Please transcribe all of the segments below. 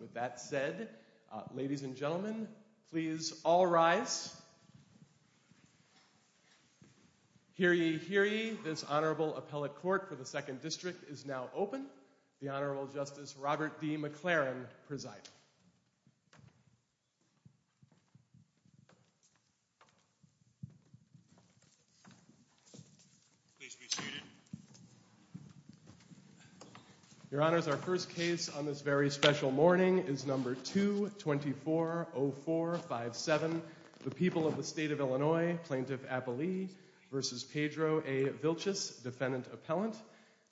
with that said, ladies and gentlemen, please all rise. Hear ye, hear ye. This Honorable Appellate Court for the Second District is now open. The Honorable Justice Robert D. McLaren presiding. Please be seated. Your Honors, our first case on this very special morning is number 2240457, the people of the State of Illinois, Plaintiff Appellee v. Pedro A. Vilchis, Defendant Appellant.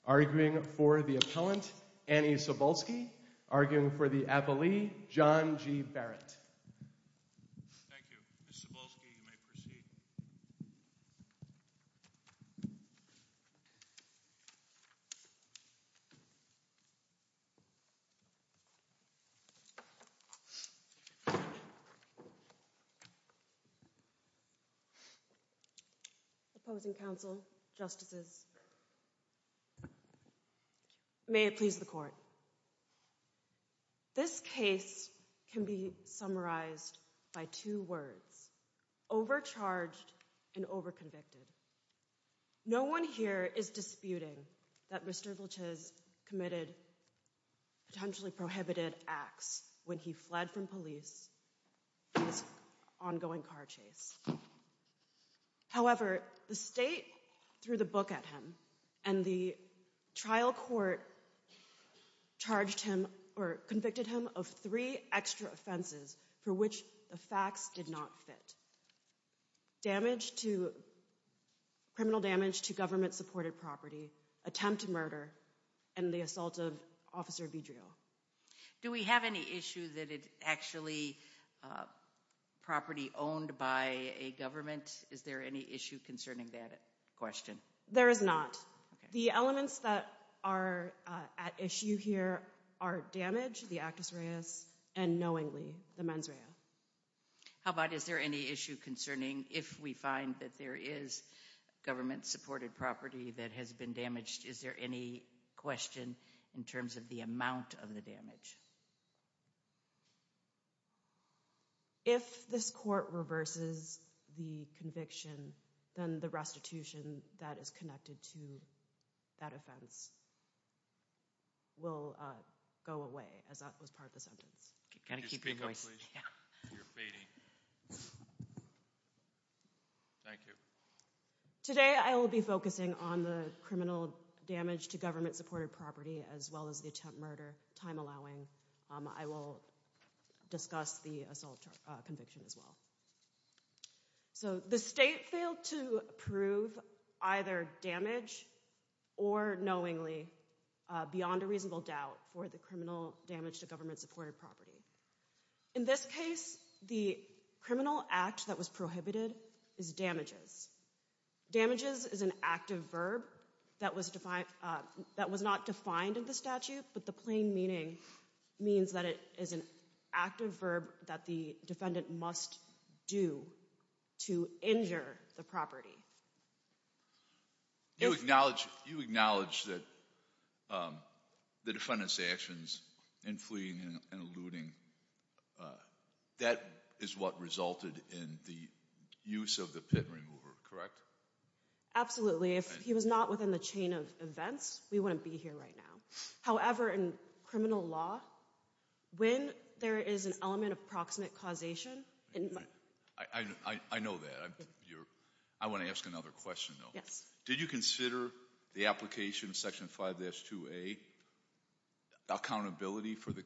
Arguing for the Appellant, Annie Cebulski. Arguing for the Appellee, John G. Barrett. Thank you. Ms. Cebulski, you may proceed. Opposing counsel, justices, may it please the Court. This case can be summarized by two words, overcharged and overconvicted. No one here is disputing that Mr. Vilchis committed potentially prohibited acts when he fled from police on this ongoing car chase. However, the state threw the book at him and the trial court charged him or convicted him of three extra offenses for which the facts did not fit. Damage to, criminal damage to government supported property, attempt to murder, and the assault of Officer Vidrio. Do we have any issue that it's actually property owned by a government? Is there any issue concerning that question? There is not. The elements that are at issue here are damage, the actus reus, and knowingly, the mens rea. How about is there any issue concerning if we find that there is government supported property that has been damaged, is there any question in terms of the amount of the damage? If this Court reverses the conviction, then the restitution that is connected to that offense will go away, as that was part of the sentence. Can you speak up please? You're focusing on the criminal damage to government supported property as well as the attempt murder, time allowing. I will discuss the assault conviction as well. So the state failed to prove either damage or knowingly beyond a reasonable doubt for the criminal damage to government supported property. In this case, the criminal act that was prohibited is damages. Damages is an active verb that was not defined in the statute, but the plain meaning means that it is an active verb that the defendant must do to injure the property. You acknowledge that the defendant's actions in fleeing and eluding, that is what resulted in the use of the pit remover, correct? Absolutely. If he was not within the chain of events, we wouldn't be here right now. However, in criminal law, when there is an element of proximate causation- I know that. I want to ask another question though. Yes. Did you consider the application in section 5-2A, accountability for the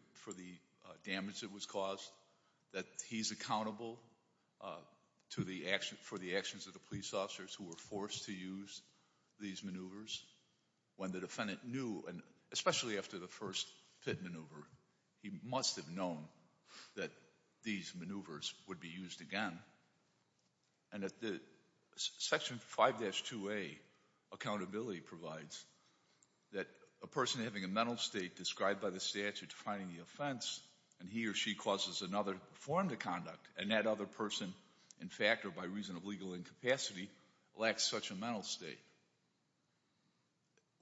damage that was caused, that he's accountable for the actions of the police officers who were forced to use these maneuvers when the defendant knew, especially after the first pit maneuver, he must have known that these maneuvers would be used again. And section 5-2A, accountability provides that a person having a mental state described by the statute defining the offense and he or she causes another form to conduct and that other person, in fact or by reason of legal incapacity, lacks such a mental state.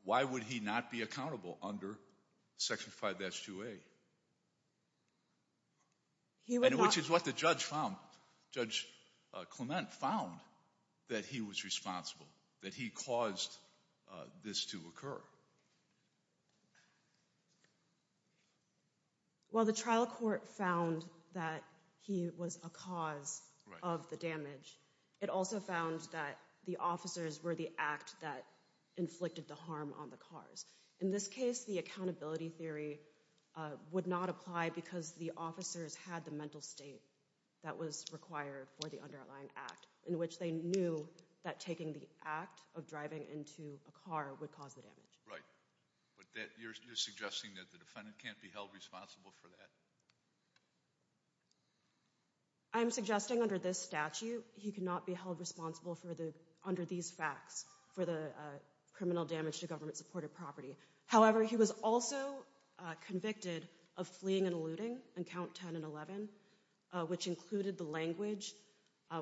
Why would he not be accountable under section 5-2A? And which is what the judge found. Judge Clement found that he was responsible, that he caused this to occur. While the trial court found that he was a cause of the damage, it also found that the officers were the act that inflicted the harm on the cars. In this case, the accountability theory would not apply because the officers had the mental state that was required for the underlying act in which they knew that taking the act of driving into a car would cause the damage. Right. But you're suggesting that the defendant can't be held responsible for that? I'm suggesting under this statute, he could not be held responsible for the, under these facts, for the criminal damage to government-supported property. However, he was also convicted of fleeing and eluding on count 10 and 11, which included the language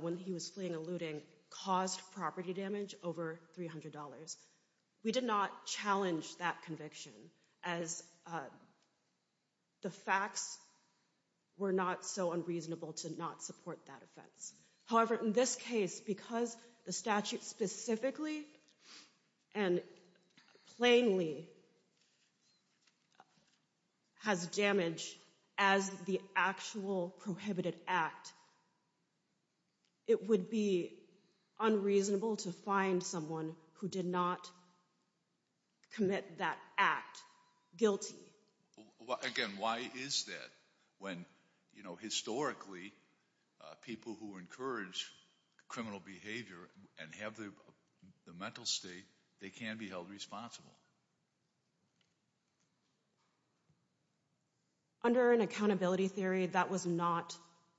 when he was fleeing and eluding, caused property damage over $300. We did not challenge that conviction as the facts were not so unreasonable to not support that offense. However, in this case, because the statute specifically and plainly has damage as the actual prohibited act, it would be unreasonable to find someone who did not commit that act guilty. Again, why is that? When, you know, historically, people who encourage criminal behavior and have the mental state, they can be held responsible. Under an accountability theory, that was not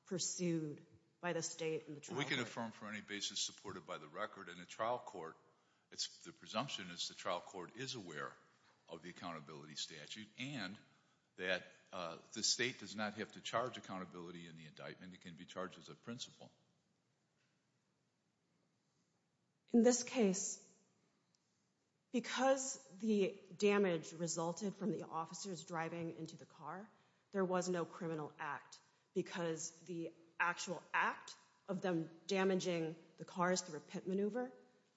pursued by the state? We can affirm for any basis supported by the record and the trial court, the presumption is the trial court is aware of the accountability statute and that the state does not have to charge accountability in the indictment. It can be charged as a principle. In this case, because the damage resulted from the officers driving into the car, there was no criminal act because the actual act of them damaging the cars through a pit maneuver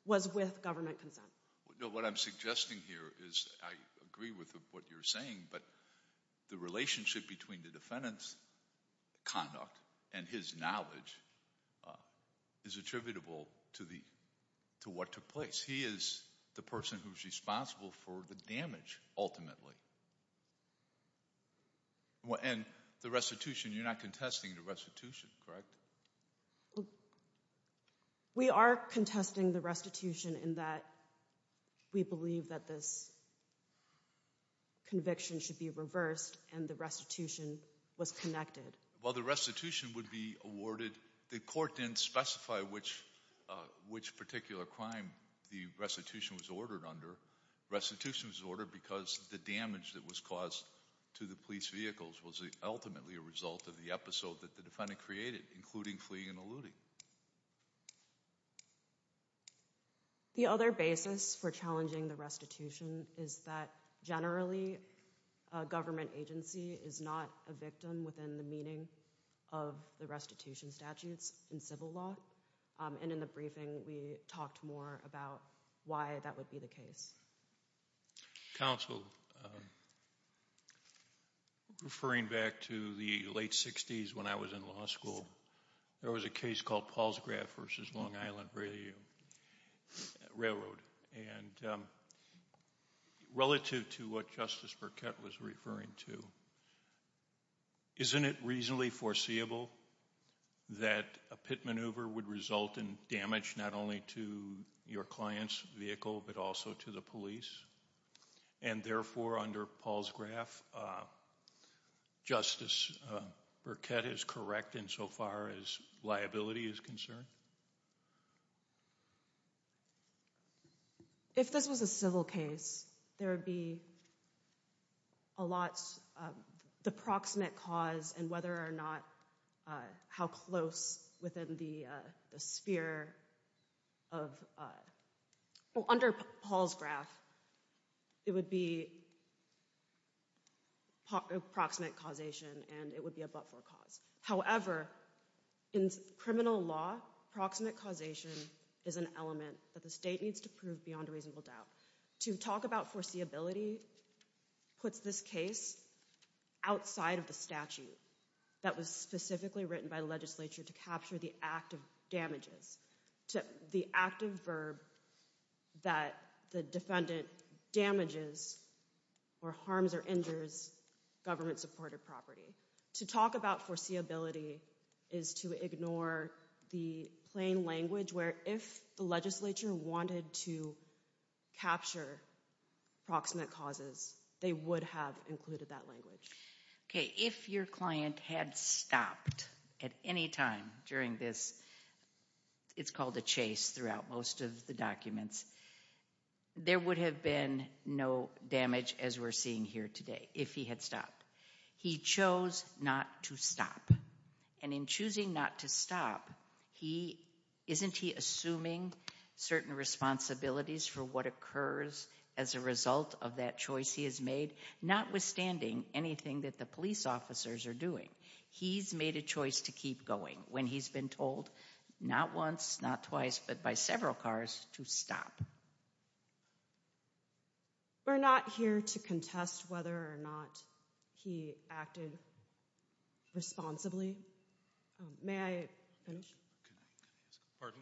was with government consent. What I'm suggesting here is I agree with what you're saying, but the relationship between the defendant's conduct and his knowledge is attributable to what took place. He is the person who's responsible for the damage ultimately. And the restitution, you're not contesting the restitution, correct? We are contesting the restitution in that we believe that this conviction should be reversed and the restitution was connected. While the restitution would be awarded, the court didn't specify which particular crime the restitution was ordered under. Restitution was ordered because the damage that was caused to the police vehicles was ultimately a result of the episode that the defendant created, including fleeing and eluding. The other basis for challenging the restitution is that generally a government agency is not a victim within the meaning of the restitution statutes in civil law. And in the briefing, we talked more about why that would be the case. Counsel, referring back to the late 60s when I was in law school, there was a case called Paul's Graft v. Long Island Railroad. And relative to what Justice Burkett was referring to, isn't it reasonably foreseeable that a pit maneuver would result in damage not only to your client's vehicle but also to the police? And therefore, under Paul's Graft, Justice Burkett is correct insofar as liability is concerned? If this was a civil case, there would be a lot of the proximate cause and whether or not, how close within the sphere of, under Paul's Graft, it would be proximate causation and it would be a but-for cause. However, in criminal law, proximate causation is an element that the state needs to prove beyond a reasonable doubt. To talk about foreseeability puts this case outside of the statute that was specifically written by the legislature to capture the act of damages, the active verb that the defendant damages or harms or injures government-supported property. To talk about foreseeability is to ignore the plain language where if the legislature wanted to capture proximate causes, they would have included that language. If your client had stopped at any time during this, it's called a chase throughout most of the documents, there would have been no damage as we're seeing here today, if he had stopped. He chose not to stop. And in choosing not to stop, isn't he assuming certain responsibilities for what occurs as a result of that choice he has made, notwithstanding anything that the police officers are doing? He's made a choice to keep going when he's been told, not once, not twice, but by several cars, to stop. We're not here to contest whether or not he acted responsibly. May I finish? Pardon?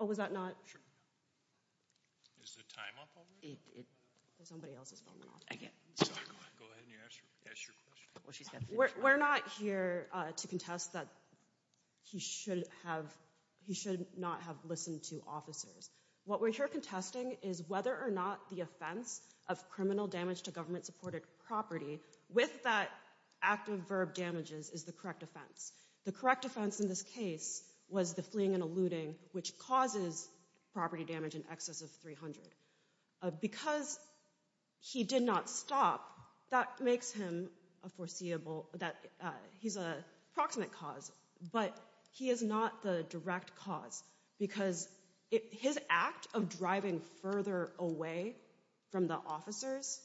Oh, was that not? Is the time up already? Somebody else is filming. Go ahead and ask your question. We're not here to contest that he should not have listened to officers. What we're here contesting is whether or not the offense of criminal damage to government-supported property, with that active verb damages, is the correct offense. The correct offense in this case was the fleeing and eluding, which causes property damage in excess of 300. Because he did not stop, that makes him a foreseeable, he's a proximate cause, but he is not the direct cause because his act of driving further away from the officers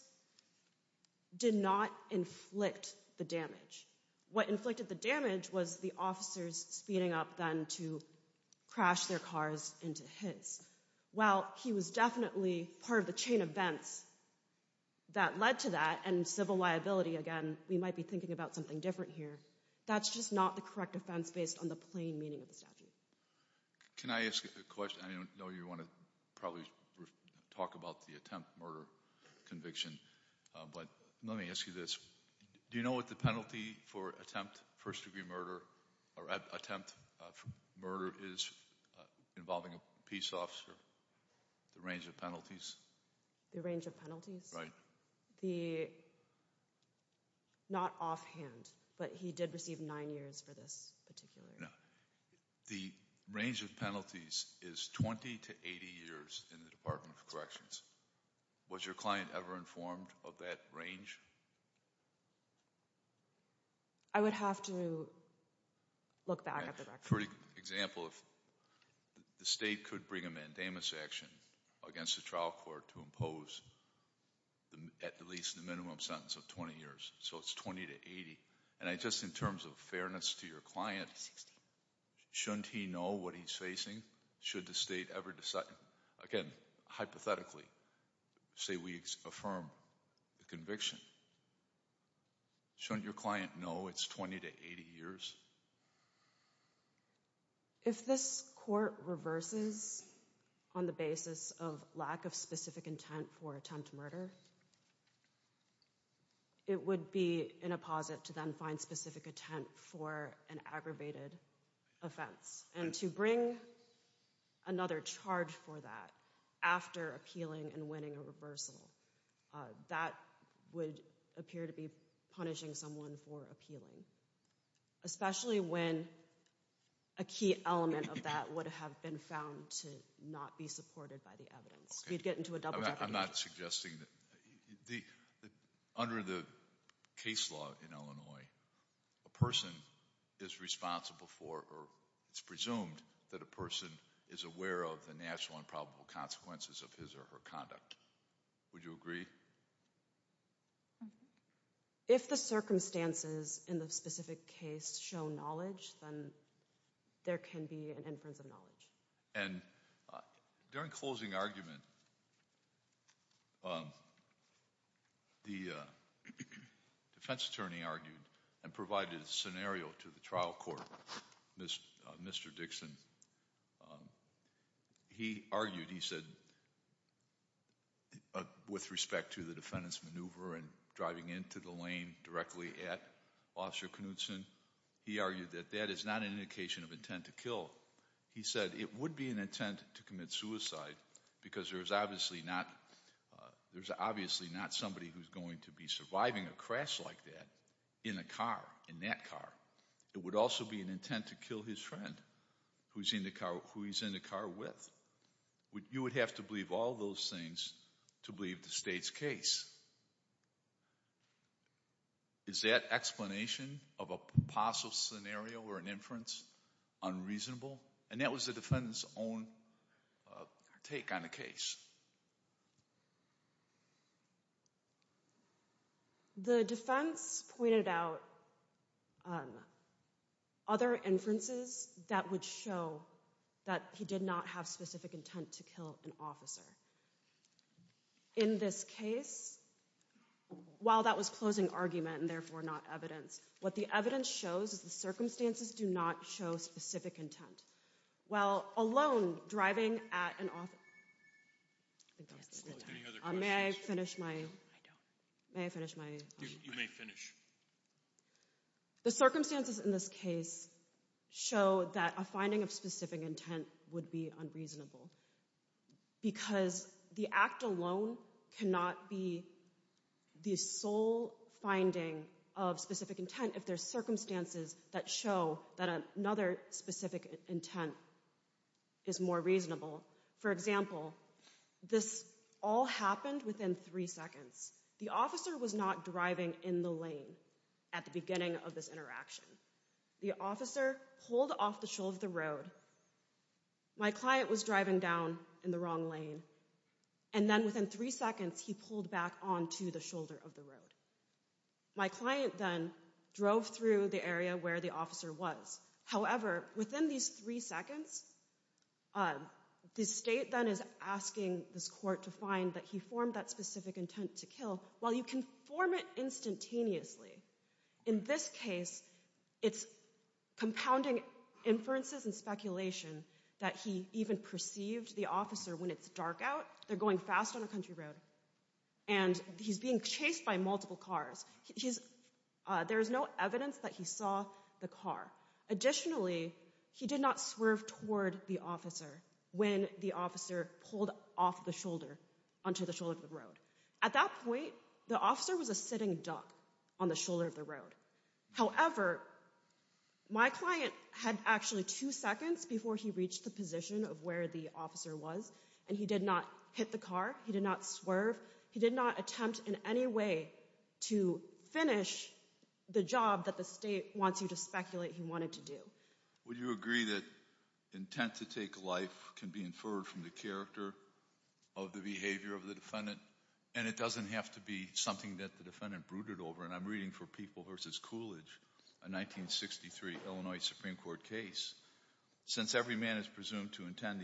did not inflict the damage. What inflicted the damage was the officers speeding up then to crash their cars into his. While he was definitely part of the chain of events that led to that, and civil liability, again, we might be thinking about something different here, that's just not the correct offense based on the plain meaning of the statute. Can I ask a question? I know you want to probably talk about the attempt murder conviction, but let me ask you this. Do you know what the penalty for attempt first-degree murder or attempt murder is involving a peace officer? The range of penalties? The range of penalties? Right. Not offhand, but he did receive nine years for this particularly. No. The range of penalties is 20 to 80 years in the Department of Corrections. Was your client ever informed of that range? I would have to look back at the record. For example, if the state could bring a mandamus action against the trial court to impose at least the minimum sentence of 20 years, so it's 20 to 80, and just in terms of fairness to your client, shouldn't he know what he's facing? Should the state ever decide? Again, hypothetically, say we affirm the conviction. Shouldn't your client know it's 20 to 80 years? If this court reverses on the basis of lack of specific intent for attempt murder, it would be in a posit to then find specific intent for an aggravated offense, and to bring another charge for that after appealing and winning a reversal, that would appear to be punishing someone for appealing, especially when a key element of that would have been found to not be supported by the evidence. We'd get into a double-decker. I'm not suggesting that. Under the case law in Illinois, a person is responsible for or it's presumed that a person is aware of the natural and probable consequences of his or her conduct. Would you agree? If the circumstances in the specific case show knowledge, then there can be an inference of knowledge. During closing argument, the defense attorney argued and provided a scenario to the trial court, Mr. Dixon. He argued, he said, with respect to the defendant's maneuver and driving into the lane directly at Officer Knudson, he argued that that is not an indication of intent to kill. He said it would be an intent to commit suicide because there's obviously not somebody who's going to be surviving a crash like that in a car, in that car. It would also be an intent to kill his friend who he's in the car with. You would have to believe all those things to believe the state's case. Is that explanation of a possible scenario or an inference unreasonable? And that was the defendant's own take on the case. The defense pointed out other inferences that would show that he did not have specific intent to kill an officer. In this case, while that was closing argument and therefore not evidence, what the evidence shows is the circumstances do not show specific intent. While alone driving at an officer, may I finish my? You may finish. The circumstances in this case show that a finding of specific intent would be unreasonable because the act alone cannot be the sole finding of specific intent if there's circumstances that show that another specific intent is more reasonable. For example, this all happened within three seconds. The officer was not driving in the lane at the beginning of this interaction. The officer pulled off the shoulder of the road. My client was driving down in the wrong lane, and then within three seconds he pulled back onto the shoulder of the road. My client then drove through the area where the officer was. However, within these three seconds, the state then is asking this court to find that he formed that specific intent to kill. While you can form it instantaneously, in this case it's compounding inferences and speculation that he even perceived the officer when it's dark out. They're going fast on a country road, and he's being chased by multiple cars. There's no evidence that he saw the car. Additionally, he did not swerve toward the officer when the officer pulled off the shoulder onto the shoulder of the road. At that point, the officer was a sitting duck on the shoulder of the road. However, my client had actually two seconds before he reached the position of where the officer was, and he did not hit the car. He did not swerve. He did not attempt in any way to finish the job that the state wants you to speculate he wanted to do. Would you agree that intent to take life can be inferred from the character of the behavior of the defendant, and it doesn't have to be something that the defendant brooded over? I'm reading for People v. Coolidge, a 1963 Illinois Supreme Court case. Since every man is presumed to intend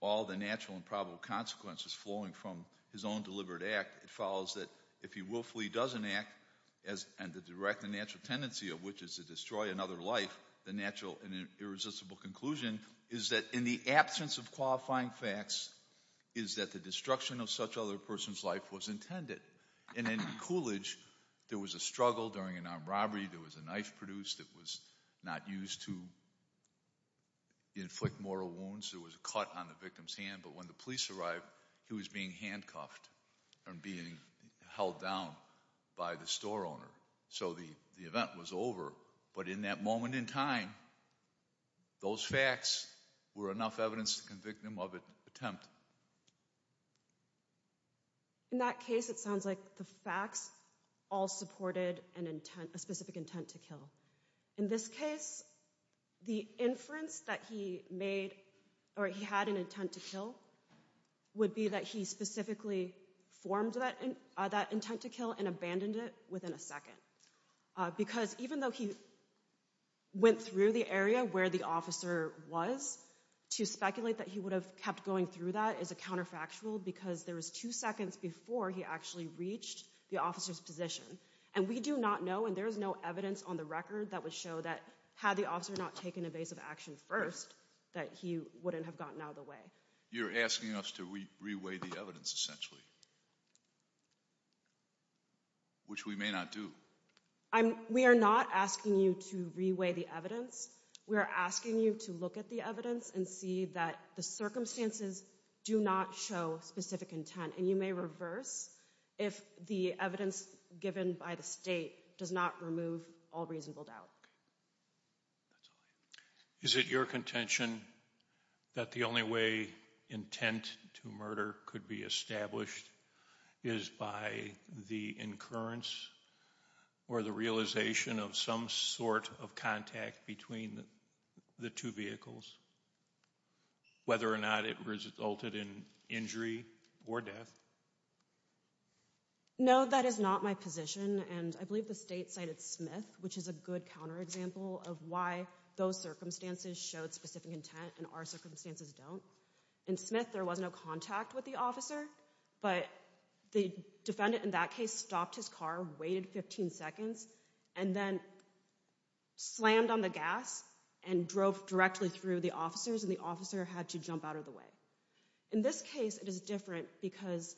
all the natural and probable consequences flowing from his own deliberate act, it follows that if he willfully doesn't act and to direct the natural tendency of which is to destroy another life, the natural and irresistible conclusion is that in the absence of qualifying facts is that the destruction of such other person's life was intended. In Coolidge, there was a struggle during an armed robbery. There was a knife produced that was not used to inflict mortal wounds. There was a cut on the victim's hand, but when the police arrived, he was being handcuffed and being held down by the store owner. So the event was over, but in that moment in time, those facts were enough evidence to convict him of an attempt. In that case, it sounds like the facts all supported a specific intent to kill. In this case, the inference that he made, or he had an intent to kill, would be that he specifically formed that intent to kill and abandoned it within a second. Because even though he went through the area where the officer was, to speculate that he would have kept going through that is a counterfactual because there was two seconds before he actually reached the officer's position. And we do not know, and there is no evidence on the record that would show that had the officer not taken evasive action first, that he wouldn't have gotten out of the way. You're asking us to re-weigh the evidence, essentially. Which we may not do. We are not asking you to re-weigh the evidence. We are asking you to look at the evidence and see that the circumstances do not show specific intent. And you may reverse if the evidence given by the state does not remove all reasonable doubt. Is it your contention that the only way intent to murder could be established is by the incurrence or the realization of some sort of contact between the two vehicles, whether or not it resulted in injury or death? No, that is not my position. And I believe the state cited Smith, which is a good counterexample of why those circumstances showed specific intent and our circumstances don't. In Smith, there was no contact with the officer, but the defendant in that case stopped his car, waited 15 seconds, and then slammed on the gas and drove directly through the officers, and the officer had to jump out of the way. In this case, it is different because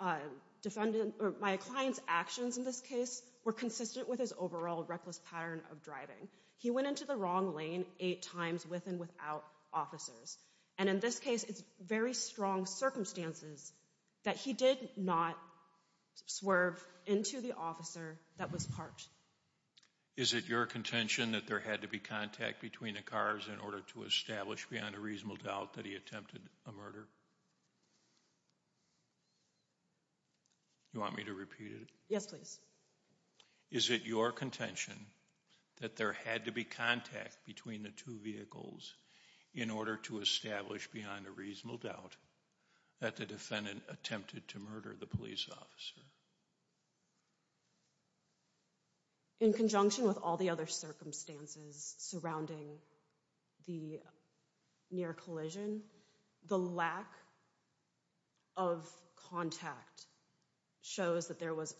my client's actions in this case were consistent with his overall reckless pattern of driving. He went into the wrong lane eight times with and without officers. And in this case, it's very strong circumstances that he did not swerve into the officer that was parked. Is it your contention that there had to be contact between the cars in order to establish beyond a reasonable doubt that he attempted a murder? You want me to repeat it? Yes, please. Is it your contention that there had to be contact between the two vehicles in order to establish beyond a reasonable doubt that the defendant attempted to murder the police officer? In conjunction with all the other circumstances surrounding the near collision, the lack of contact shows that there was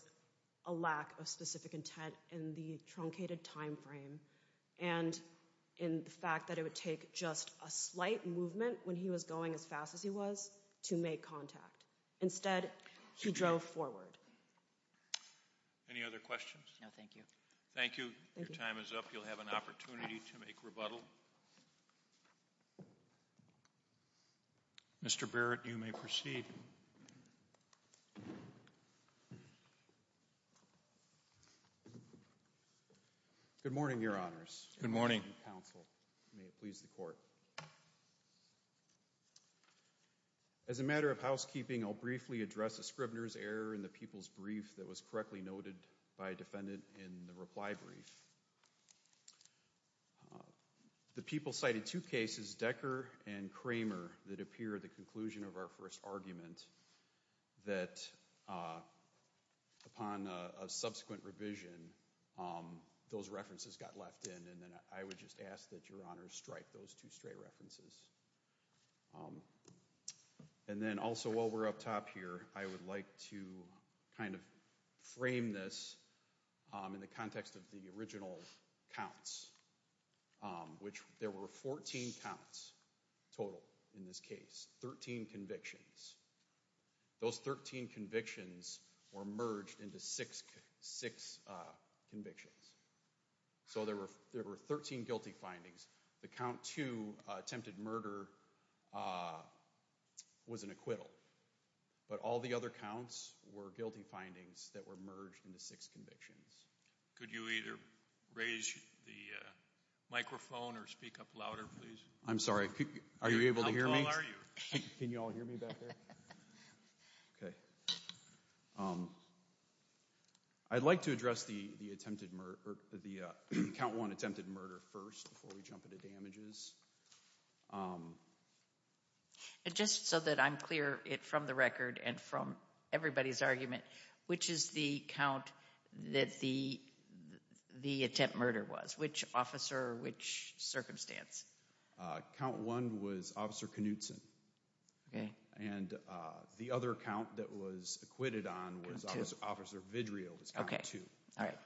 a lack of specific intent in the truncated time frame, and in the fact that it would take just a slight movement when he was going as fast as he was to make contact. Instead, he drove forward. Any other questions? No, thank you. Thank you. Your time is up. You'll have an opportunity to make rebuttal. Mr. Barrett, you may proceed. Good morning, Your Honors. Good morning. May it please the Court. As a matter of housekeeping, I'll briefly address a scrivener's error in the people's brief that was correctly noted by a defendant in the reply brief. The people cited two cases, Decker and Kramer, that appear at the conclusion of our first argument that upon a subsequent revision, those references got left in, and I would just ask that Your Honors strike those two stray references. And then also, while we're up top here, I would like to kind of frame this in the context of the original counts, which there were 14 counts total in this case, 13 convictions. Those 13 convictions were merged into six convictions. So there were 13 guilty findings. The count two, attempted murder, was an acquittal. But all the other counts were guilty findings that were merged into six convictions. Could you either raise the microphone or speak up louder, please? I'm sorry, are you able to hear me? How tall are you? Can you all hear me back there? Okay. I'd like to address the count one attempted murder first before we jump into damages. Just so that I'm clear from the record and from everybody's argument, which is the count that the attempt murder was? Which officer, which circumstance? Count one was Officer Knutson. Okay. And the other count that was acquitted on was Officer Vidrio, that's count two. Okay, all right.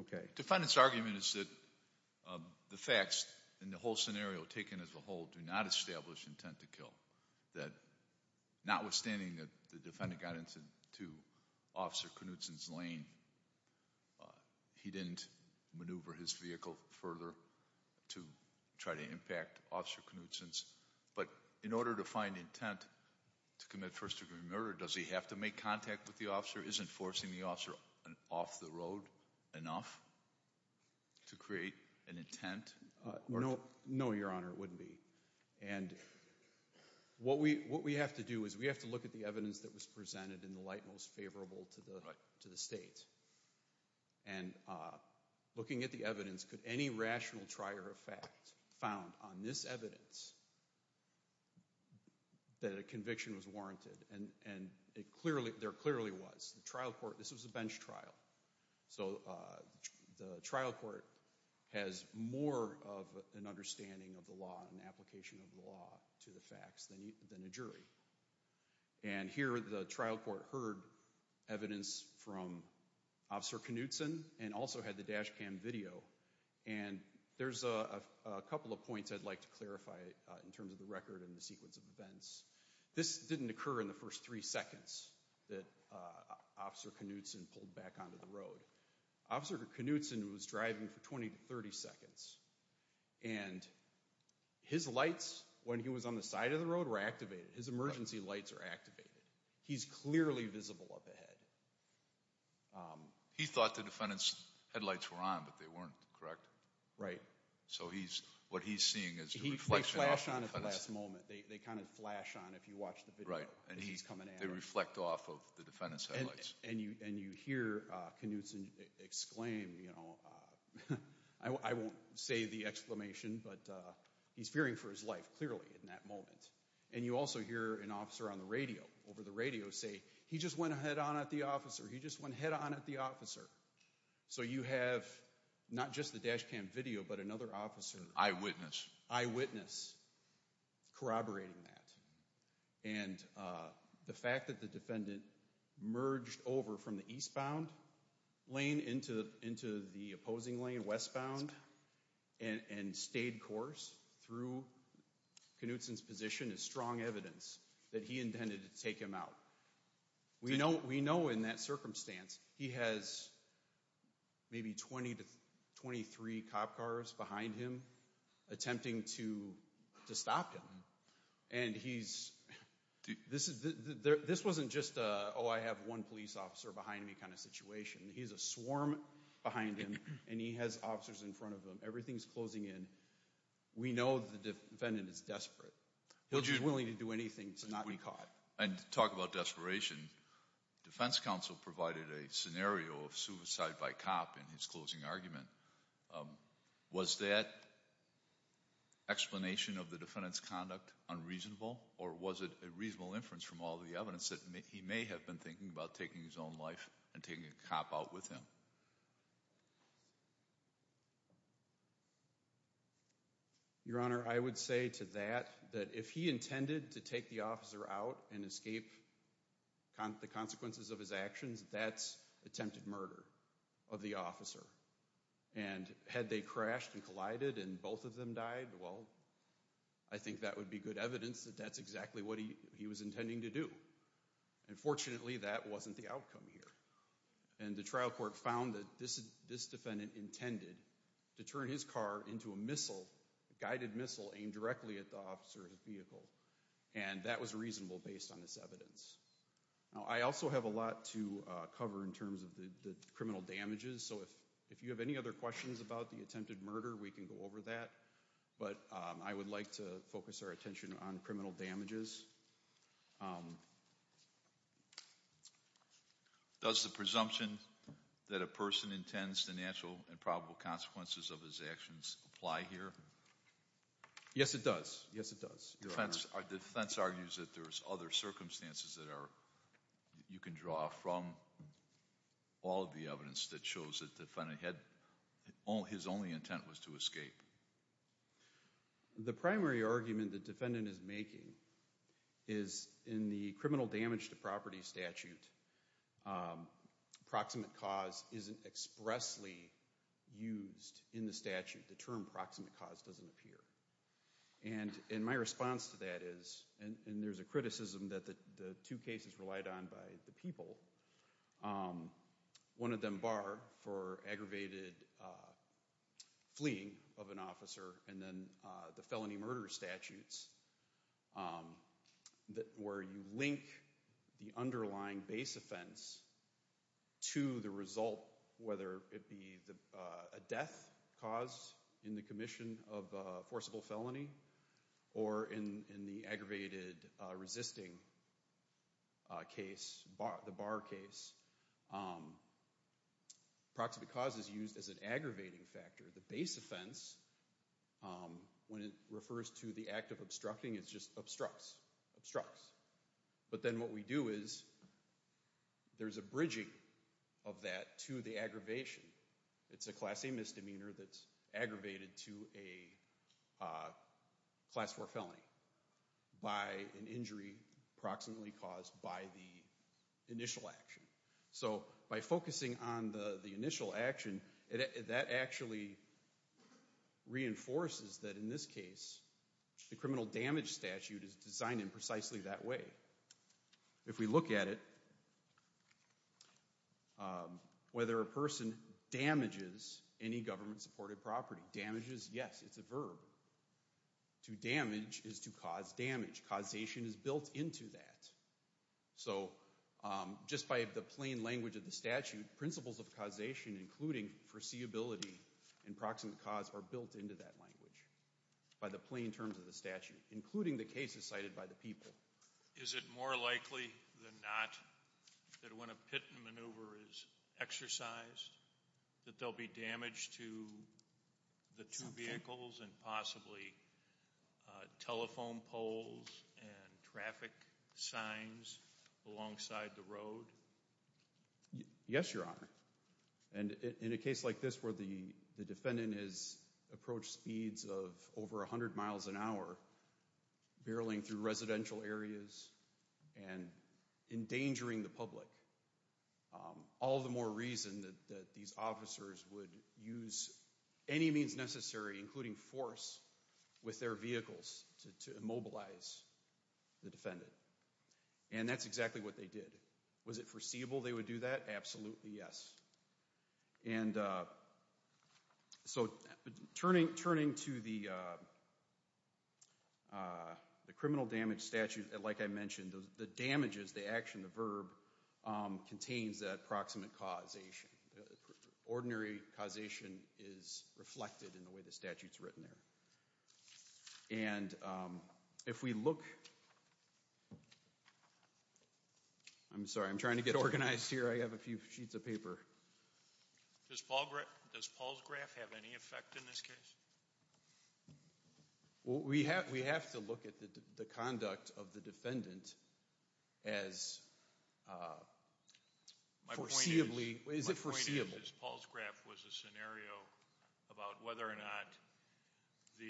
Okay. Defendant's argument is that the facts in the whole scenario taken as a whole do not establish intent to kill. Notwithstanding that the defendant got into Officer Knutson's lane, he didn't maneuver his vehicle further to try to impact Officer Knutson's. But in order to find intent to commit first degree murder, does he have to make contact with the officer? Isn't forcing the officer off the road enough to create an intent? No, Your Honor, it wouldn't be. And what we have to do is we have to look at the evidence that was presented in the light most favorable to the state. And looking at the evidence, could any rational trier of fact found on this evidence that a conviction was warranted? And there clearly was. The trial court, this was a bench trial. So the trial court has more of an understanding of the law and application of the law to the facts than a jury. And here the trial court heard evidence from Officer Knutson and also had the dash cam video. And there's a couple of points I'd like to clarify in terms of the record and the sequence of events. This didn't occur in the first three seconds that Officer Knutson pulled back onto the road. Officer Knutson was driving for 20 to 30 seconds and his lights, when he was on the side of the road, were activated. His emergency lights are activated. He's clearly visible up ahead. He thought the defendant's headlights were on, but they weren't, correct? Right. So what he's seeing is the reflection off the defendant's... They flash on at the last moment. They kind of flash on if you watch the video as he's coming at him. They reflect off of the defendant's headlights. And you hear Knutson exclaim, I won't say the exclamation, but he's fearing for his life, clearly, in that moment. And you also hear an officer on the radio, over the radio, say, he just went head-on at the officer. He just went head-on at the officer. So you have not just the dash cam video, but another officer... Eyewitness. Eyewitness corroborating that. And the fact that the defendant merged over from the eastbound lane into the opposing lane, westbound, and stayed course through Knutson's position is strong evidence that he intended to take him out. We know, in that circumstance, he has maybe 20 to 23 cop cars behind him attempting to stop him. And he's... This wasn't just, oh, I have one police officer behind me kind of situation. He's a swarm behind him, and he has officers in front of him. Everything's closing in. We know the defendant is desperate. He's willing to do anything to not be caught. And to talk about desperation, defense counsel provided a scenario of suicide by cop in his closing argument. Was that explanation of the defendant's conduct unreasonable, or was it a reasonable inference from all the evidence that he may have been thinking about taking his own life and taking a cop out with him? Your Honor, I would say to that that if he intended to take the officer out and escape the consequences of his actions, that's attempted murder of the officer. And had they crashed and collided and both of them died, well, I think that would be good evidence that that's exactly what he was intending to do. And fortunately, that wasn't the outcome here. And the trial court found that this defendant intended to turn his car into a guided missile aimed directly at the officer's vehicle, and that was reasonable based on this evidence. Now, I also have a lot to cover in terms of the criminal damages, so if you have any other questions about the attempted murder, we can go over that. But I would like to focus our attention on criminal damages. Does the presumption that a person intends the natural and probable consequences of his actions apply here? Yes, it does. Yes, it does, Your Honor. The defense argues that there's other circumstances that you can draw from all of the evidence that shows that his only intent was to escape. The primary argument the defendant is making is in the criminal damage to property statute, proximate cause isn't expressly used in the statute. The term proximate cause doesn't appear. And my response to that is, and there's a criticism that the two cases relied on by the people, one of them barred for aggravated fleeing of an officer and then the felony murder statutes, where you link the underlying base offense to the result, whether it be a death caused in the commission of forcible felony or in the aggravated resisting case, the bar case, proximate cause is used as an aggravating factor. The base offense, when it refers to the act of obstructing, it's just obstructs, obstructs. But then what we do is there's a bridging of that to the aggravation. It's a class A misdemeanor that's aggravated to a class four felony by an injury proximately caused by the initial action. So by focusing on the initial action, that actually reinforces that in this case, the criminal damage statute is designed in precisely that way. If we look at it, whether a person damages any government supported property, damages, yes, it's a verb. To damage is to cause damage. Causation is built into that. So just by the plain language of the statute, principles of causation, including foreseeability and proximate cause, are built into that language by the plain terms of the statute, including the cases cited by the people. Is it more likely than not that when a pit and maneuver is exercised, that there'll be damage to the two vehicles and possibly telephone poles and traffic signs alongside the road? Yes, Your Honor. And in a case like this where the defendant has approached speeds of over 100 miles an hour, barreling through residential areas and endangering the public, all the more reason that these officers would use any means necessary, including force, with their vehicles to immobilize the defendant. And that's exactly what they did. Was it foreseeable they would do that? Absolutely, yes. And so turning to the criminal damage statute, like I mentioned, the damages, the action, the verb, contains that proximate causation. Ordinary causation is reflected in the way the statute's written there. And if we look—I'm sorry, I'm trying to get organized here. I have a few sheets of paper. Does Paul's graph have any effect in this case? We have to look at the conduct of the defendant as foreseeably—is it foreseeable? My point is Paul's graph was a scenario about whether or not the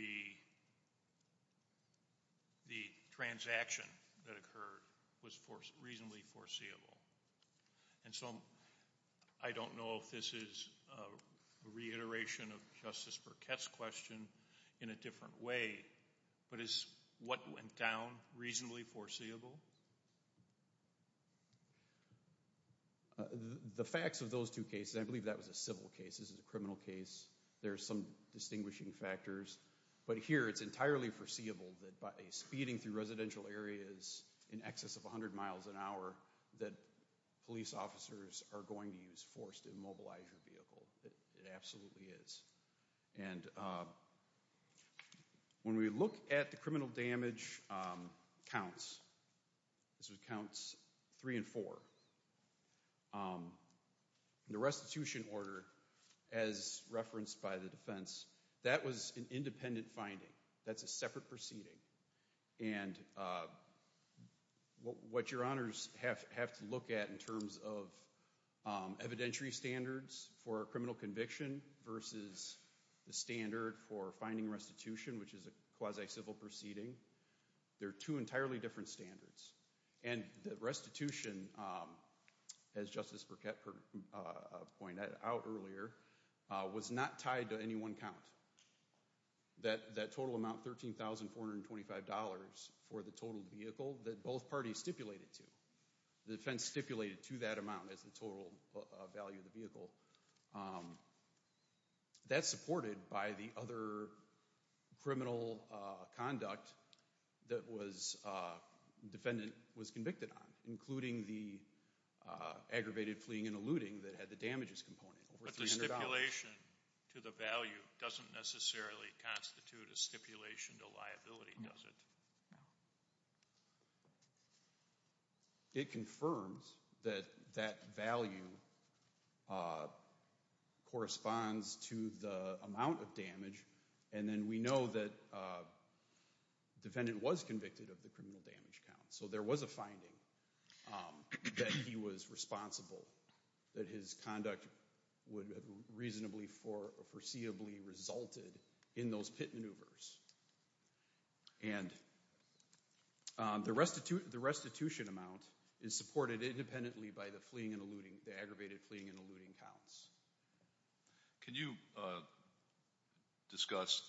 transaction that occurred was reasonably foreseeable. And so I don't know if this is a reiteration of Justice Burkett's question in a different way, but is what went down reasonably foreseeable? The facts of those two cases—I believe that was a civil case, this is a criminal case— there are some distinguishing factors. But here it's entirely foreseeable that by speeding through residential areas in excess of 100 miles an hour that police officers are going to use force to immobilize your vehicle. It absolutely is. And when we look at the criminal damage counts—this was counts three and four— the restitution order, as referenced by the defense, that was an independent finding. That's a separate proceeding. And what your honors have to look at in terms of evidentiary standards for a criminal conviction versus the standard for finding restitution, which is a quasi-civil proceeding, they're two entirely different standards. And the restitution, as Justice Burkett pointed out earlier, was not tied to any one count. That total amount, $13,425 for the total vehicle that both parties stipulated to. The defense stipulated to that amount as the total value of the vehicle. That's supported by the other criminal conduct that the defendant was convicted on, including the aggravated fleeing and eluding that had the damages component, over $300. The stipulation to the value doesn't necessarily constitute a stipulation to liability, does it? It confirms that that value corresponds to the amount of damage, and then we know that the defendant was convicted of the criminal damage count. So there was a finding that he was responsible, that his conduct would have reasonably foreseeably resulted in those pit maneuvers. And the restitution amount is supported independently by the fleeing and eluding, the aggravated fleeing and eluding counts. Can you discuss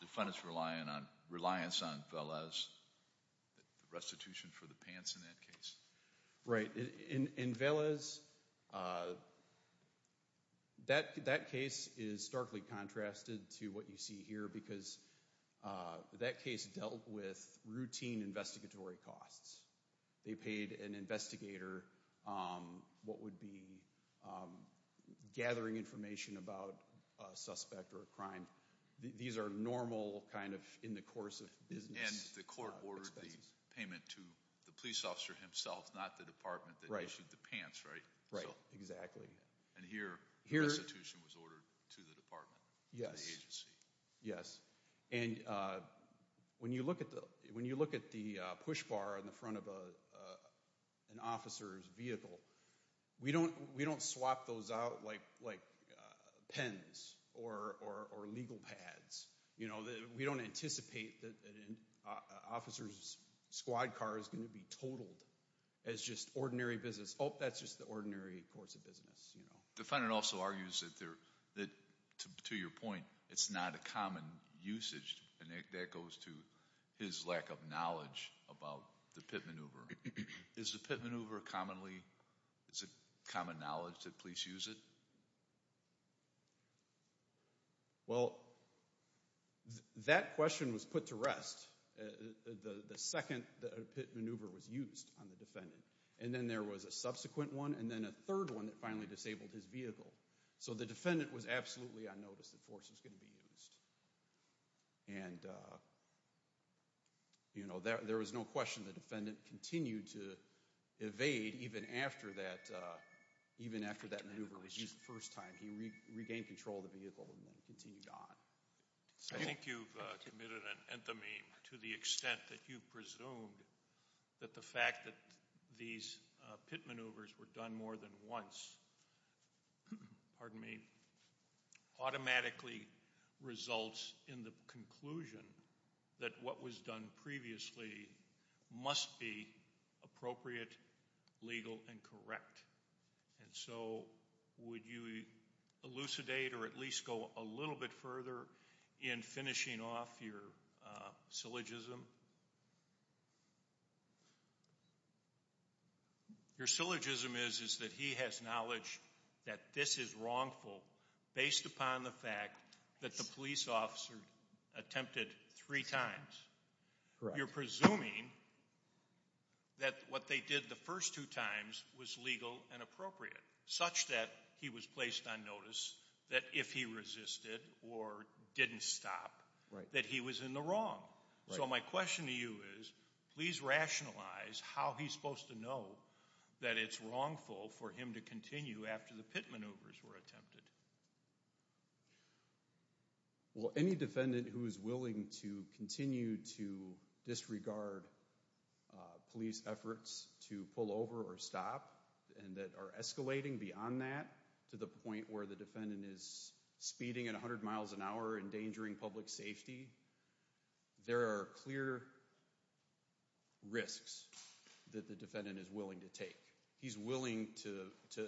the defendant's reliance on Velez, restitution for the pants in that case? Right. In Velez, that case is starkly contrasted to what you see here because that case dealt with routine investigatory costs. They paid an investigator what would be gathering information about a suspect or a crime. These are normal, kind of in the course of business expenses. And the court ordered the payment to the police officer himself, not the department that issued the pants, right? Right, exactly. And here, the restitution was ordered to the department, to the agency. Yes. And when you look at the push bar in the front of an officer's vehicle, we don't swap those out like pens or legal pads. We don't anticipate that an officer's squad car is going to be totaled as just ordinary business. Oh, that's just the ordinary course of business. The defendant also argues that, to your point, it's not a common usage, and that goes to his lack of knowledge about the pit maneuver. Is the pit maneuver commonly, is it common knowledge that police use it? Well, that question was put to rest. The second pit maneuver was used on the defendant. And then there was a subsequent one, and then a third one that finally disabled his vehicle. So the defendant was absolutely unnoticed that force was going to be used. And, you know, there was no question the defendant continued to evade even after that maneuver was used the first time. He regained control of the vehicle and then continued on. I think you've committed an anthem to the extent that you've presumed that the fact that these pit maneuvers were done more than once, pardon me, automatically results in the conclusion that what was done previously must be appropriate, legal, and correct. And so would you elucidate or at least go a little bit further in finishing off your syllogism? Your syllogism is that he has knowledge that this is wrongful based upon the fact that the police officer attempted three times. Correct. You're presuming that what they did the first two times was legal and appropriate, such that he was placed on notice that if he resisted or didn't stop, that he was in the wrong. So my question to you is, please rationalize how he's supposed to know that it's wrongful for him to continue after the pit maneuvers were attempted. Well, any defendant who is willing to continue to disregard police efforts to pull over or stop and that are escalating beyond that to the point where the defendant is speeding at 100 miles an hour, endangering public safety, there are clear risks that the defendant is willing to take. He's willing to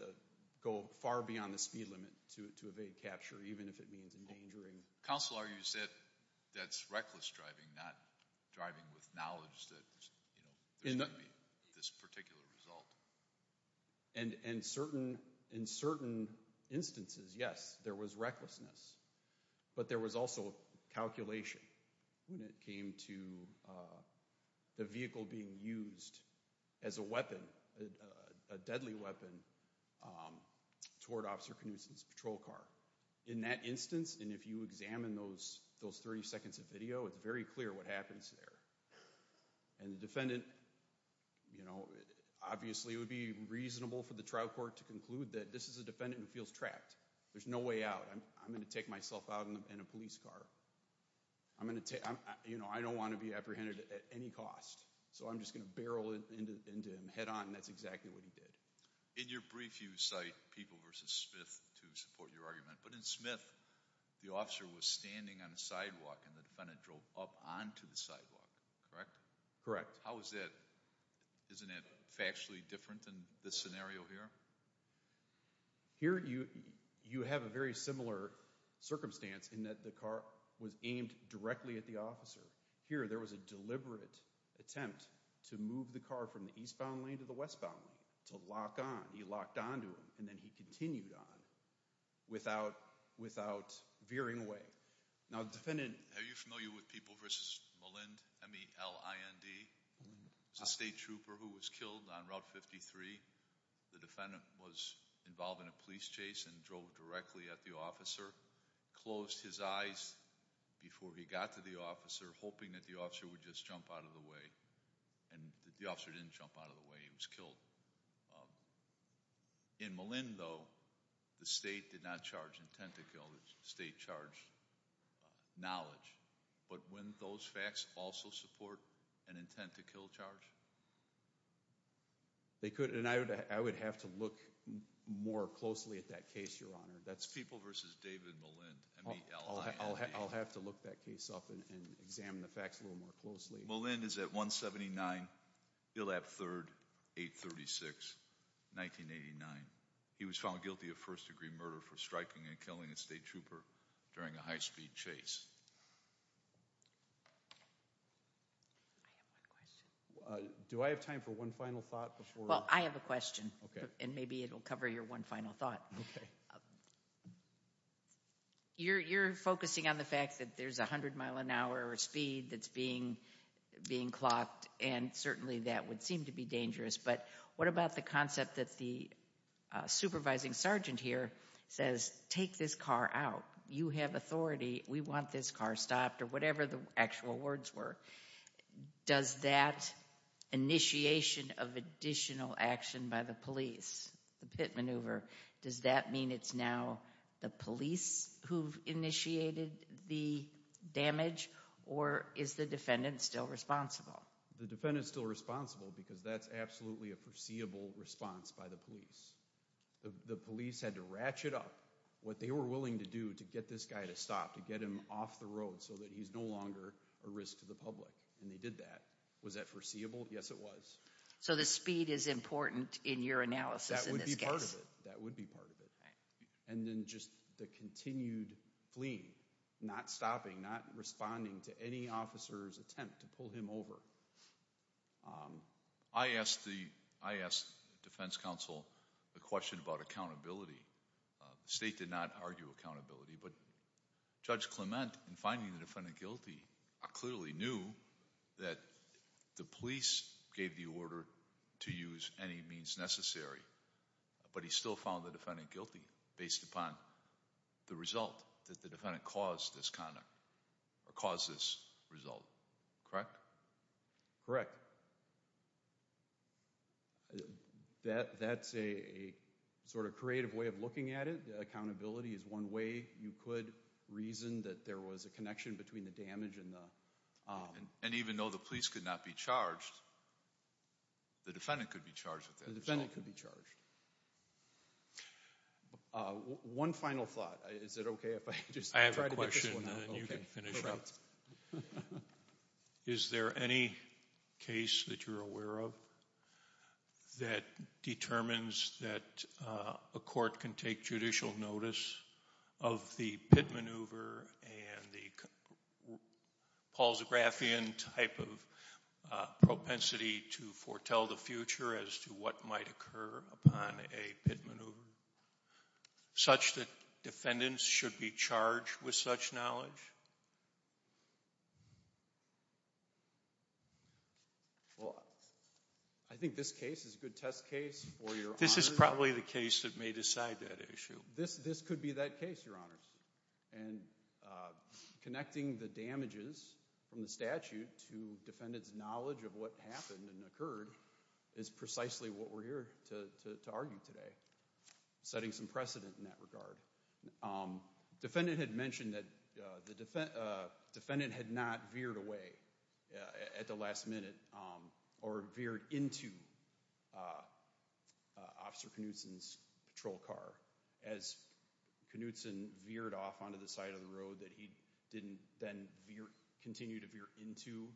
go far beyond the speed limit to evade capture, even if it means endangering. Counsel, are you saying that's reckless driving, not driving with knowledge that there's going to be this particular result? In certain instances, yes, there was recklessness. But there was also calculation when it came to the vehicle being used as a weapon, a deadly weapon toward Officer Knutson's patrol car. In that instance, and if you examine those 30 seconds of video, it's very clear what happens there. And the defendant, you know, obviously it would be reasonable for the trial court to conclude that this is a defendant who feels trapped. There's no way out. I'm going to take myself out in a police car. You know, I don't want to be apprehended at any cost. So I'm just going to barrel into him head-on, and that's exactly what he did. In your brief, you cite People v. Smith to support your argument. But in Smith, the officer was standing on a sidewalk, and the defendant drove up onto the sidewalk, correct? Correct. How is that – isn't that factually different in this scenario here? Here, you have a very similar circumstance in that the car was aimed directly at the officer. Here, there was a deliberate attempt to move the car from the eastbound lane to the westbound lane, to lock on. He locked onto him, and then he continued on without veering away. Now, the defendant— Are you familiar with People v. Mullind, M-E-L-I-N-D? It's a state trooper who was killed on Route 53. The defendant was involved in a police chase and drove directly at the officer, closed his eyes before he got to the officer, hoping that the officer would just jump out of the way. And the officer didn't jump out of the way. He was killed. In Mullind, though, the state did not charge intent to kill. The state charged knowledge. But wouldn't those facts also support an intent to kill charge? They could, and I would have to look more closely at that case, Your Honor. That's People v. David Mullind, M-E-L-I-N-D. I'll have to look that case up and examine the facts a little more closely. Mullind is at 179 Gillap Third, 836, 1989. He was found guilty of first-degree murder for striking and killing a state trooper during a high-speed chase. I have one question. Do I have time for one final thought before— Well, I have a question, and maybe it will cover your one final thought. You're focusing on the fact that there's a hundred-mile-an-hour speed that's being clocked, and certainly that would seem to be dangerous. But what about the concept that the supervising sergeant here says, take this car out. You have authority. We want this car stopped, or whatever the actual words were. Does that initiation of additional action by the police, the pit maneuver, does that mean it's now the police who've initiated the damage, or is the defendant still responsible? The defendant's still responsible because that's absolutely a foreseeable response by the police. The police had to ratchet up what they were willing to do to get this guy to stop, to get him off the road so that he's no longer a risk to the public, and they did that. Was that foreseeable? Yes, it was. So the speed is important in your analysis in this case. That would be part of it. And then just the continued fleeing, not stopping, not responding to any officer's attempt to pull him over. I asked the defense counsel the question about accountability. The state did not argue accountability. But Judge Clement, in finding the defendant guilty, clearly knew that the police gave the order to use any means necessary, but he still found the defendant guilty based upon the result that the defendant caused this conduct, or caused this result, correct? Correct. That's a sort of creative way of looking at it. Accountability is one way you could reason that there was a connection between the damage and the— And even though the police could not be charged, the defendant could be charged with that result. The defendant could be charged. One final thought. Is it okay if I just try to get this one out? I have a question, and then you can finish up. Is there any case that you're aware of that determines that a court can take judicial notice of the pit maneuver and the Paul Zografian type of propensity to foretell the future as to what might occur upon a pit maneuver, such that defendants should be charged with such knowledge? Well, I think this case is a good test case for your honors. This is probably the case that may decide that issue. This could be that case, your honors. Connecting the damages from the statute to defendant's knowledge of what happened and occurred is precisely what we're here to argue today. Setting some precedent in that regard. Defendant had mentioned that the defendant had not veered away at the last minute or veered into Officer Knutson's patrol car as Knutson veered off onto the side of the road that he didn't then continue to veer into.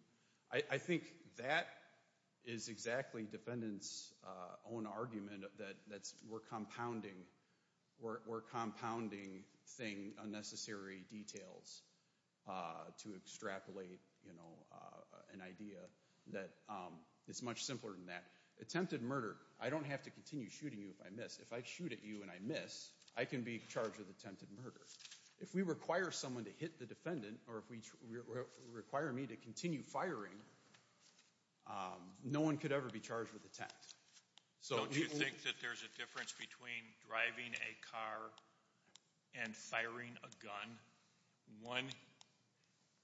I think that is exactly defendant's own argument that we're compounding unnecessary details to extrapolate an idea that is much simpler than that. Attempted murder. I don't have to continue shooting you if I miss. If I shoot at you and I miss, I can be charged with attempted murder. If we require someone to hit the defendant or if we require me to continue firing, no one could ever be charged with attempt. Don't you think that there's a difference between driving a car and firing a gun? One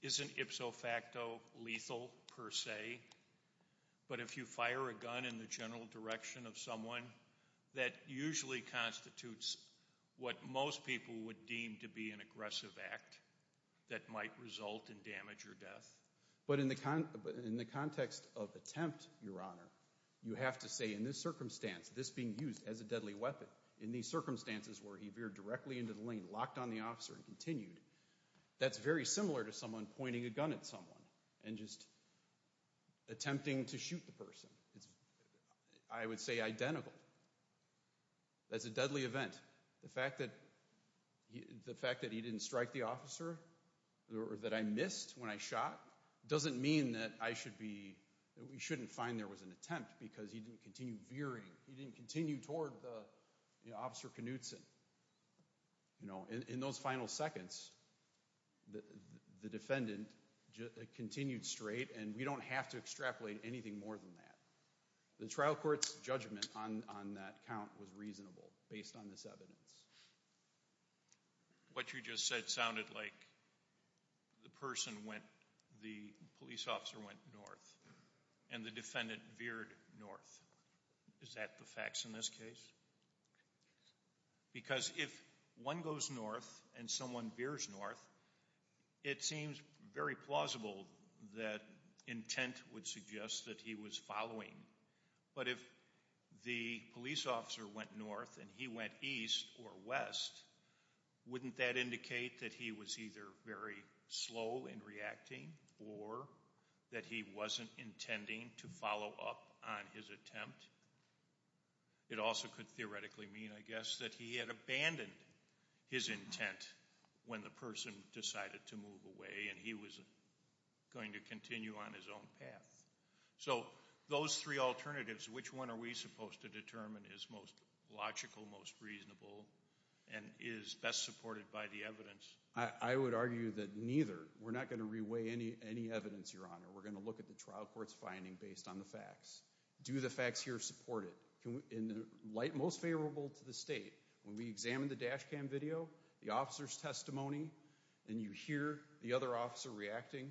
isn't ipso facto lethal per se, but if you fire a gun in the general direction of someone, that usually constitutes what most people would deem to be an aggressive act that might result in damage or death. But in the context of attempt, Your Honor, you have to say in this circumstance, this being used as a deadly weapon, in these circumstances where he veered directly into the lane, locked on the officer and continued, that's very similar to someone pointing a gun at someone and just attempting to shoot the person. I would say identical. That's a deadly event. The fact that he didn't strike the officer or that I missed when I shot doesn't mean that we shouldn't find there was an attempt because he didn't continue veering. He didn't continue toward Officer Knudsen. In those final seconds, the defendant continued straight and we don't have to extrapolate anything more than that. The trial court's judgment on that count was reasonable based on this evidence. What you just said sounded like the police officer went north and the defendant veered north. Is that the facts in this case? Because if one goes north and someone veers north, it seems very plausible that intent would suggest that he was following. But if the police officer went north and he went east or west, wouldn't that indicate that he was either very slow in reacting or that he wasn't intending to follow up on his attempt? It also could theoretically mean, I guess, that he had abandoned his intent when the person decided to move away and he was going to continue on his own path. So those three alternatives, which one are we supposed to determine is most logical, most reasonable, and is best supported by the evidence? I would argue that neither. We're not going to reweigh any evidence, Your Honor. We're going to look at the trial court's finding based on the facts. Do the facts here support it? In the light most favorable to the state, when we examine the dash cam video, the officer's testimony, and you hear the other officer reacting,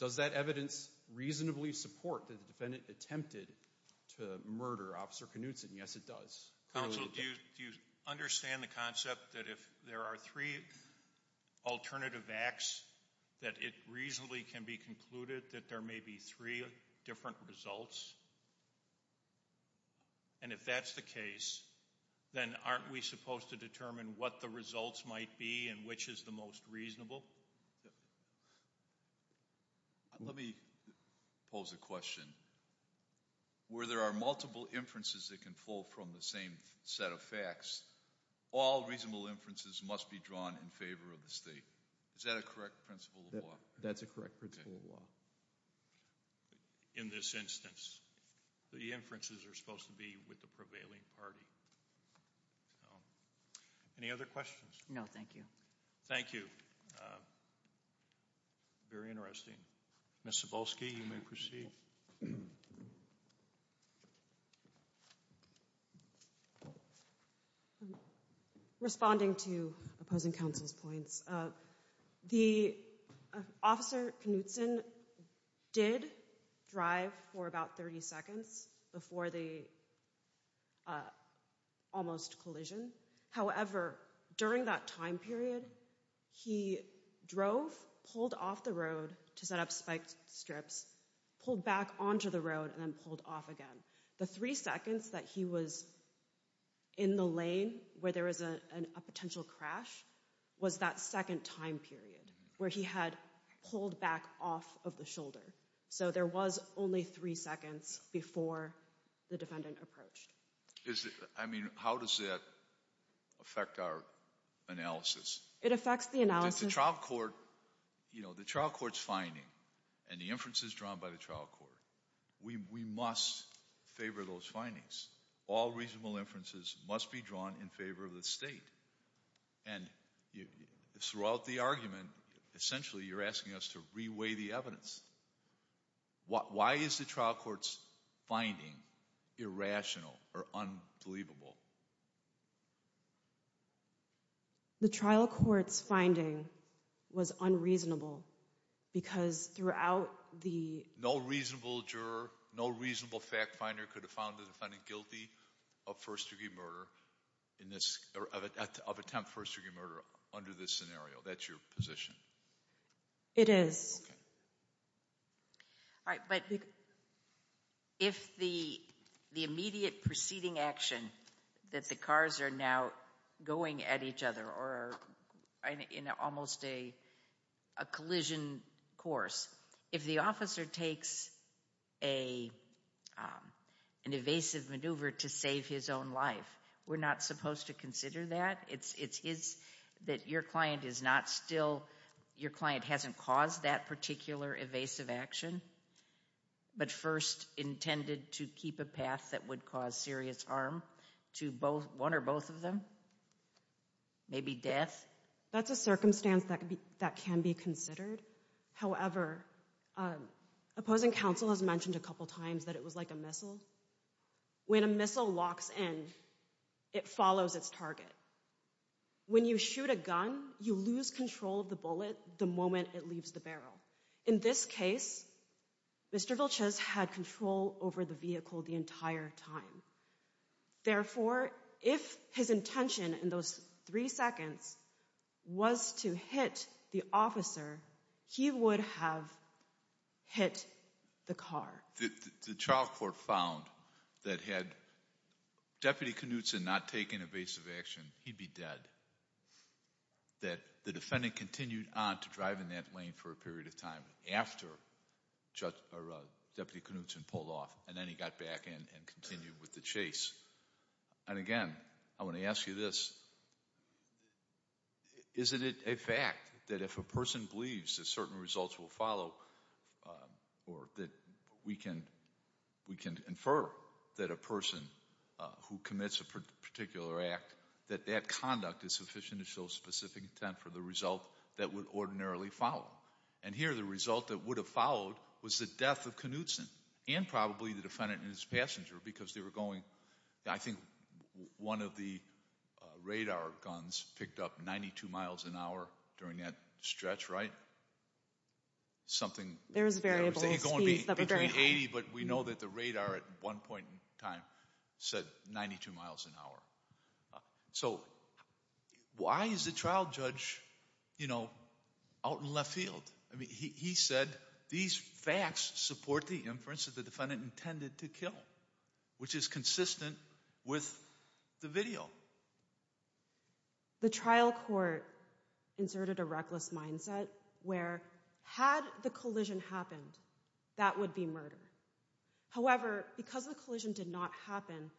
does that evidence reasonably support that the defendant attempted to murder Officer Knutson? Yes, it does. Counsel, do you understand the concept that if there are three alternative acts, that it reasonably can be concluded that there may be three different results? And if that's the case, then aren't we supposed to determine what the results might be and which is the most reasonable? Let me pose a question. Where there are multiple inferences that can fall from the same set of facts, all reasonable inferences must be drawn in favor of the state. Is that a correct principle of law? That's a correct principle of law. In this instance, the inferences are supposed to be with the prevailing party. Any other questions? No, thank you. Thank you. Very interesting. Ms. Cebulski, you may proceed. Responding to opposing counsel's points, the Officer Knutson did drive for about 30 seconds before the almost collision. However, during that time period, he drove, pulled off the road to set up spike strips, pulled back onto the road, and then pulled off again. The three seconds that he was in the lane where there was a potential crash was that second time period where he had pulled back off of the shoulder. So there was only three seconds before the defendant approached. How does that affect our analysis? It affects the analysis. The trial court's finding and the inferences drawn by the trial court, we must favor those findings. All reasonable inferences must be drawn in favor of the state. And throughout the argument, essentially you're asking us to reweigh the evidence. Why is the trial court's finding irrational or unbelievable? The trial court's finding was unreasonable because throughout the... No reasonable juror, no reasonable fact finder could have found the defendant guilty of first-degree murder of attempt for first-degree murder under this scenario. That's your position. It is. All right, but if the immediate preceding action that the cars are now going at each other or in almost a collision course, if the officer takes an evasive maneuver to save his own life, we're not supposed to consider that? It's that your client is not still... Your client hasn't caused that particular evasive action but first intended to keep a path that would cause serious harm to one or both of them? Maybe death? That's a circumstance that can be considered. However, opposing counsel has mentioned a couple times that it was like a missile. When a missile locks in, it follows its target. When you shoot a gun, you lose control of the bullet the moment it leaves the barrel. In this case, Mr. Vilches had control over the vehicle the entire time. Therefore, if his intention in those three seconds was to hit the officer, he would have hit the car. The trial court found that had Deputy Knutson not taken evasive action, he'd be dead, that the defendant continued on to drive in that lane for a period of time after Deputy Knutson pulled off, and then he got back in and continued with the chase. And again, I want to ask you this. Isn't it a fact that if a person believes that certain results will follow or that we can infer that a person who commits a particular act, that that conduct is sufficient to show specific intent for the result that would ordinarily follow? And here the result that would have followed was the death of Knutson and probably the defendant and his passenger because they were going. I think one of the radar guns picked up 92 miles an hour during that stretch, right? There was variable speeds that were very high. But we know that the radar at one point in time said 92 miles an hour. So why is the trial judge out in left field? He said these facts support the inference that the defendant intended to kill, which is consistent with the video. The trial court inserted a reckless mindset where had the collision happened, that would be murder. However, because the collision did not happen,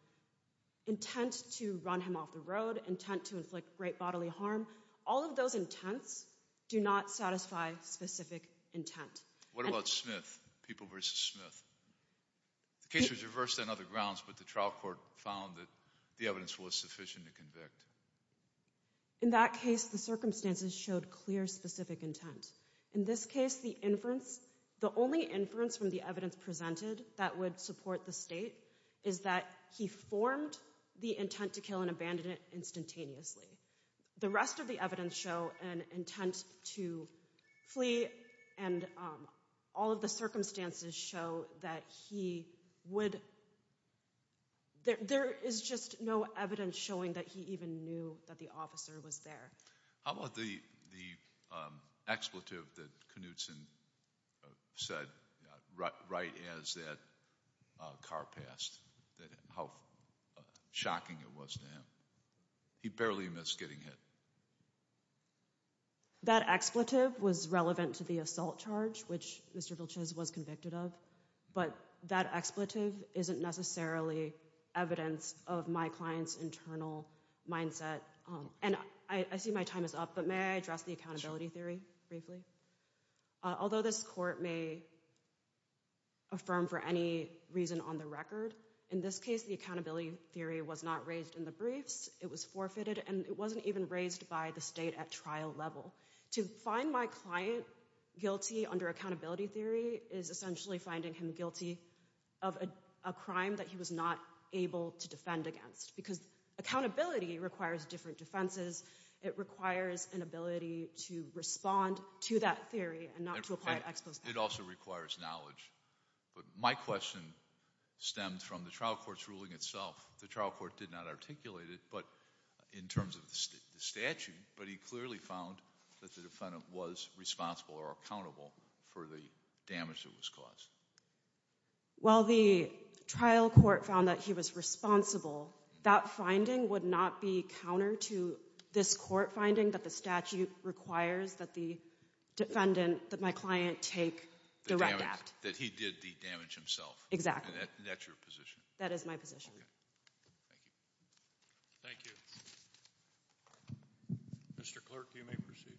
intent to run him off the road, intent to inflict great bodily harm, all of those intents do not satisfy specific intent. What about Smith, people versus Smith? The case was reversed on other grounds, but the trial court found that the evidence was sufficient to convict. In that case, the circumstances showed clear specific intent. In this case, the inference, the only inference from the evidence presented that would support the state is that he formed the intent to kill and abandoned it instantaneously. The rest of the evidence show an intent to flee, and all of the circumstances show that he would, there is just no evidence showing that he even knew that the officer was there. How about the expletive that Knutson said right as that car passed, how shocking it was to him? He barely missed getting hit. That expletive was relevant to the assault charge, which Mr. Vilches was convicted of, but that expletive isn't necessarily evidence of my client's internal mindset. And I see my time is up, but may I address the accountability theory briefly? Although this court may affirm for any reason on the record, in this case, the accountability theory was not raised in the briefs. It was forfeited, and it wasn't even raised by the state at trial level. To find my client guilty under accountability theory is essentially finding him guilty of a crime that he was not able to defend against, because accountability requires different defenses. It requires an ability to respond to that theory and not to apply an expletive. It also requires knowledge. But my question stemmed from the trial court's ruling itself. The trial court did not articulate it in terms of the statute, but he clearly found that the defendant was responsible or accountable for the damage that was caused. While the trial court found that he was responsible, that finding would not be counter to this court finding that the statute requires that the defendant, that my client, take direct act. That he did the damage himself. Exactly. And that's your position? That is my position. Okay. Thank you. Thank you. Mr. Clerk, you may proceed.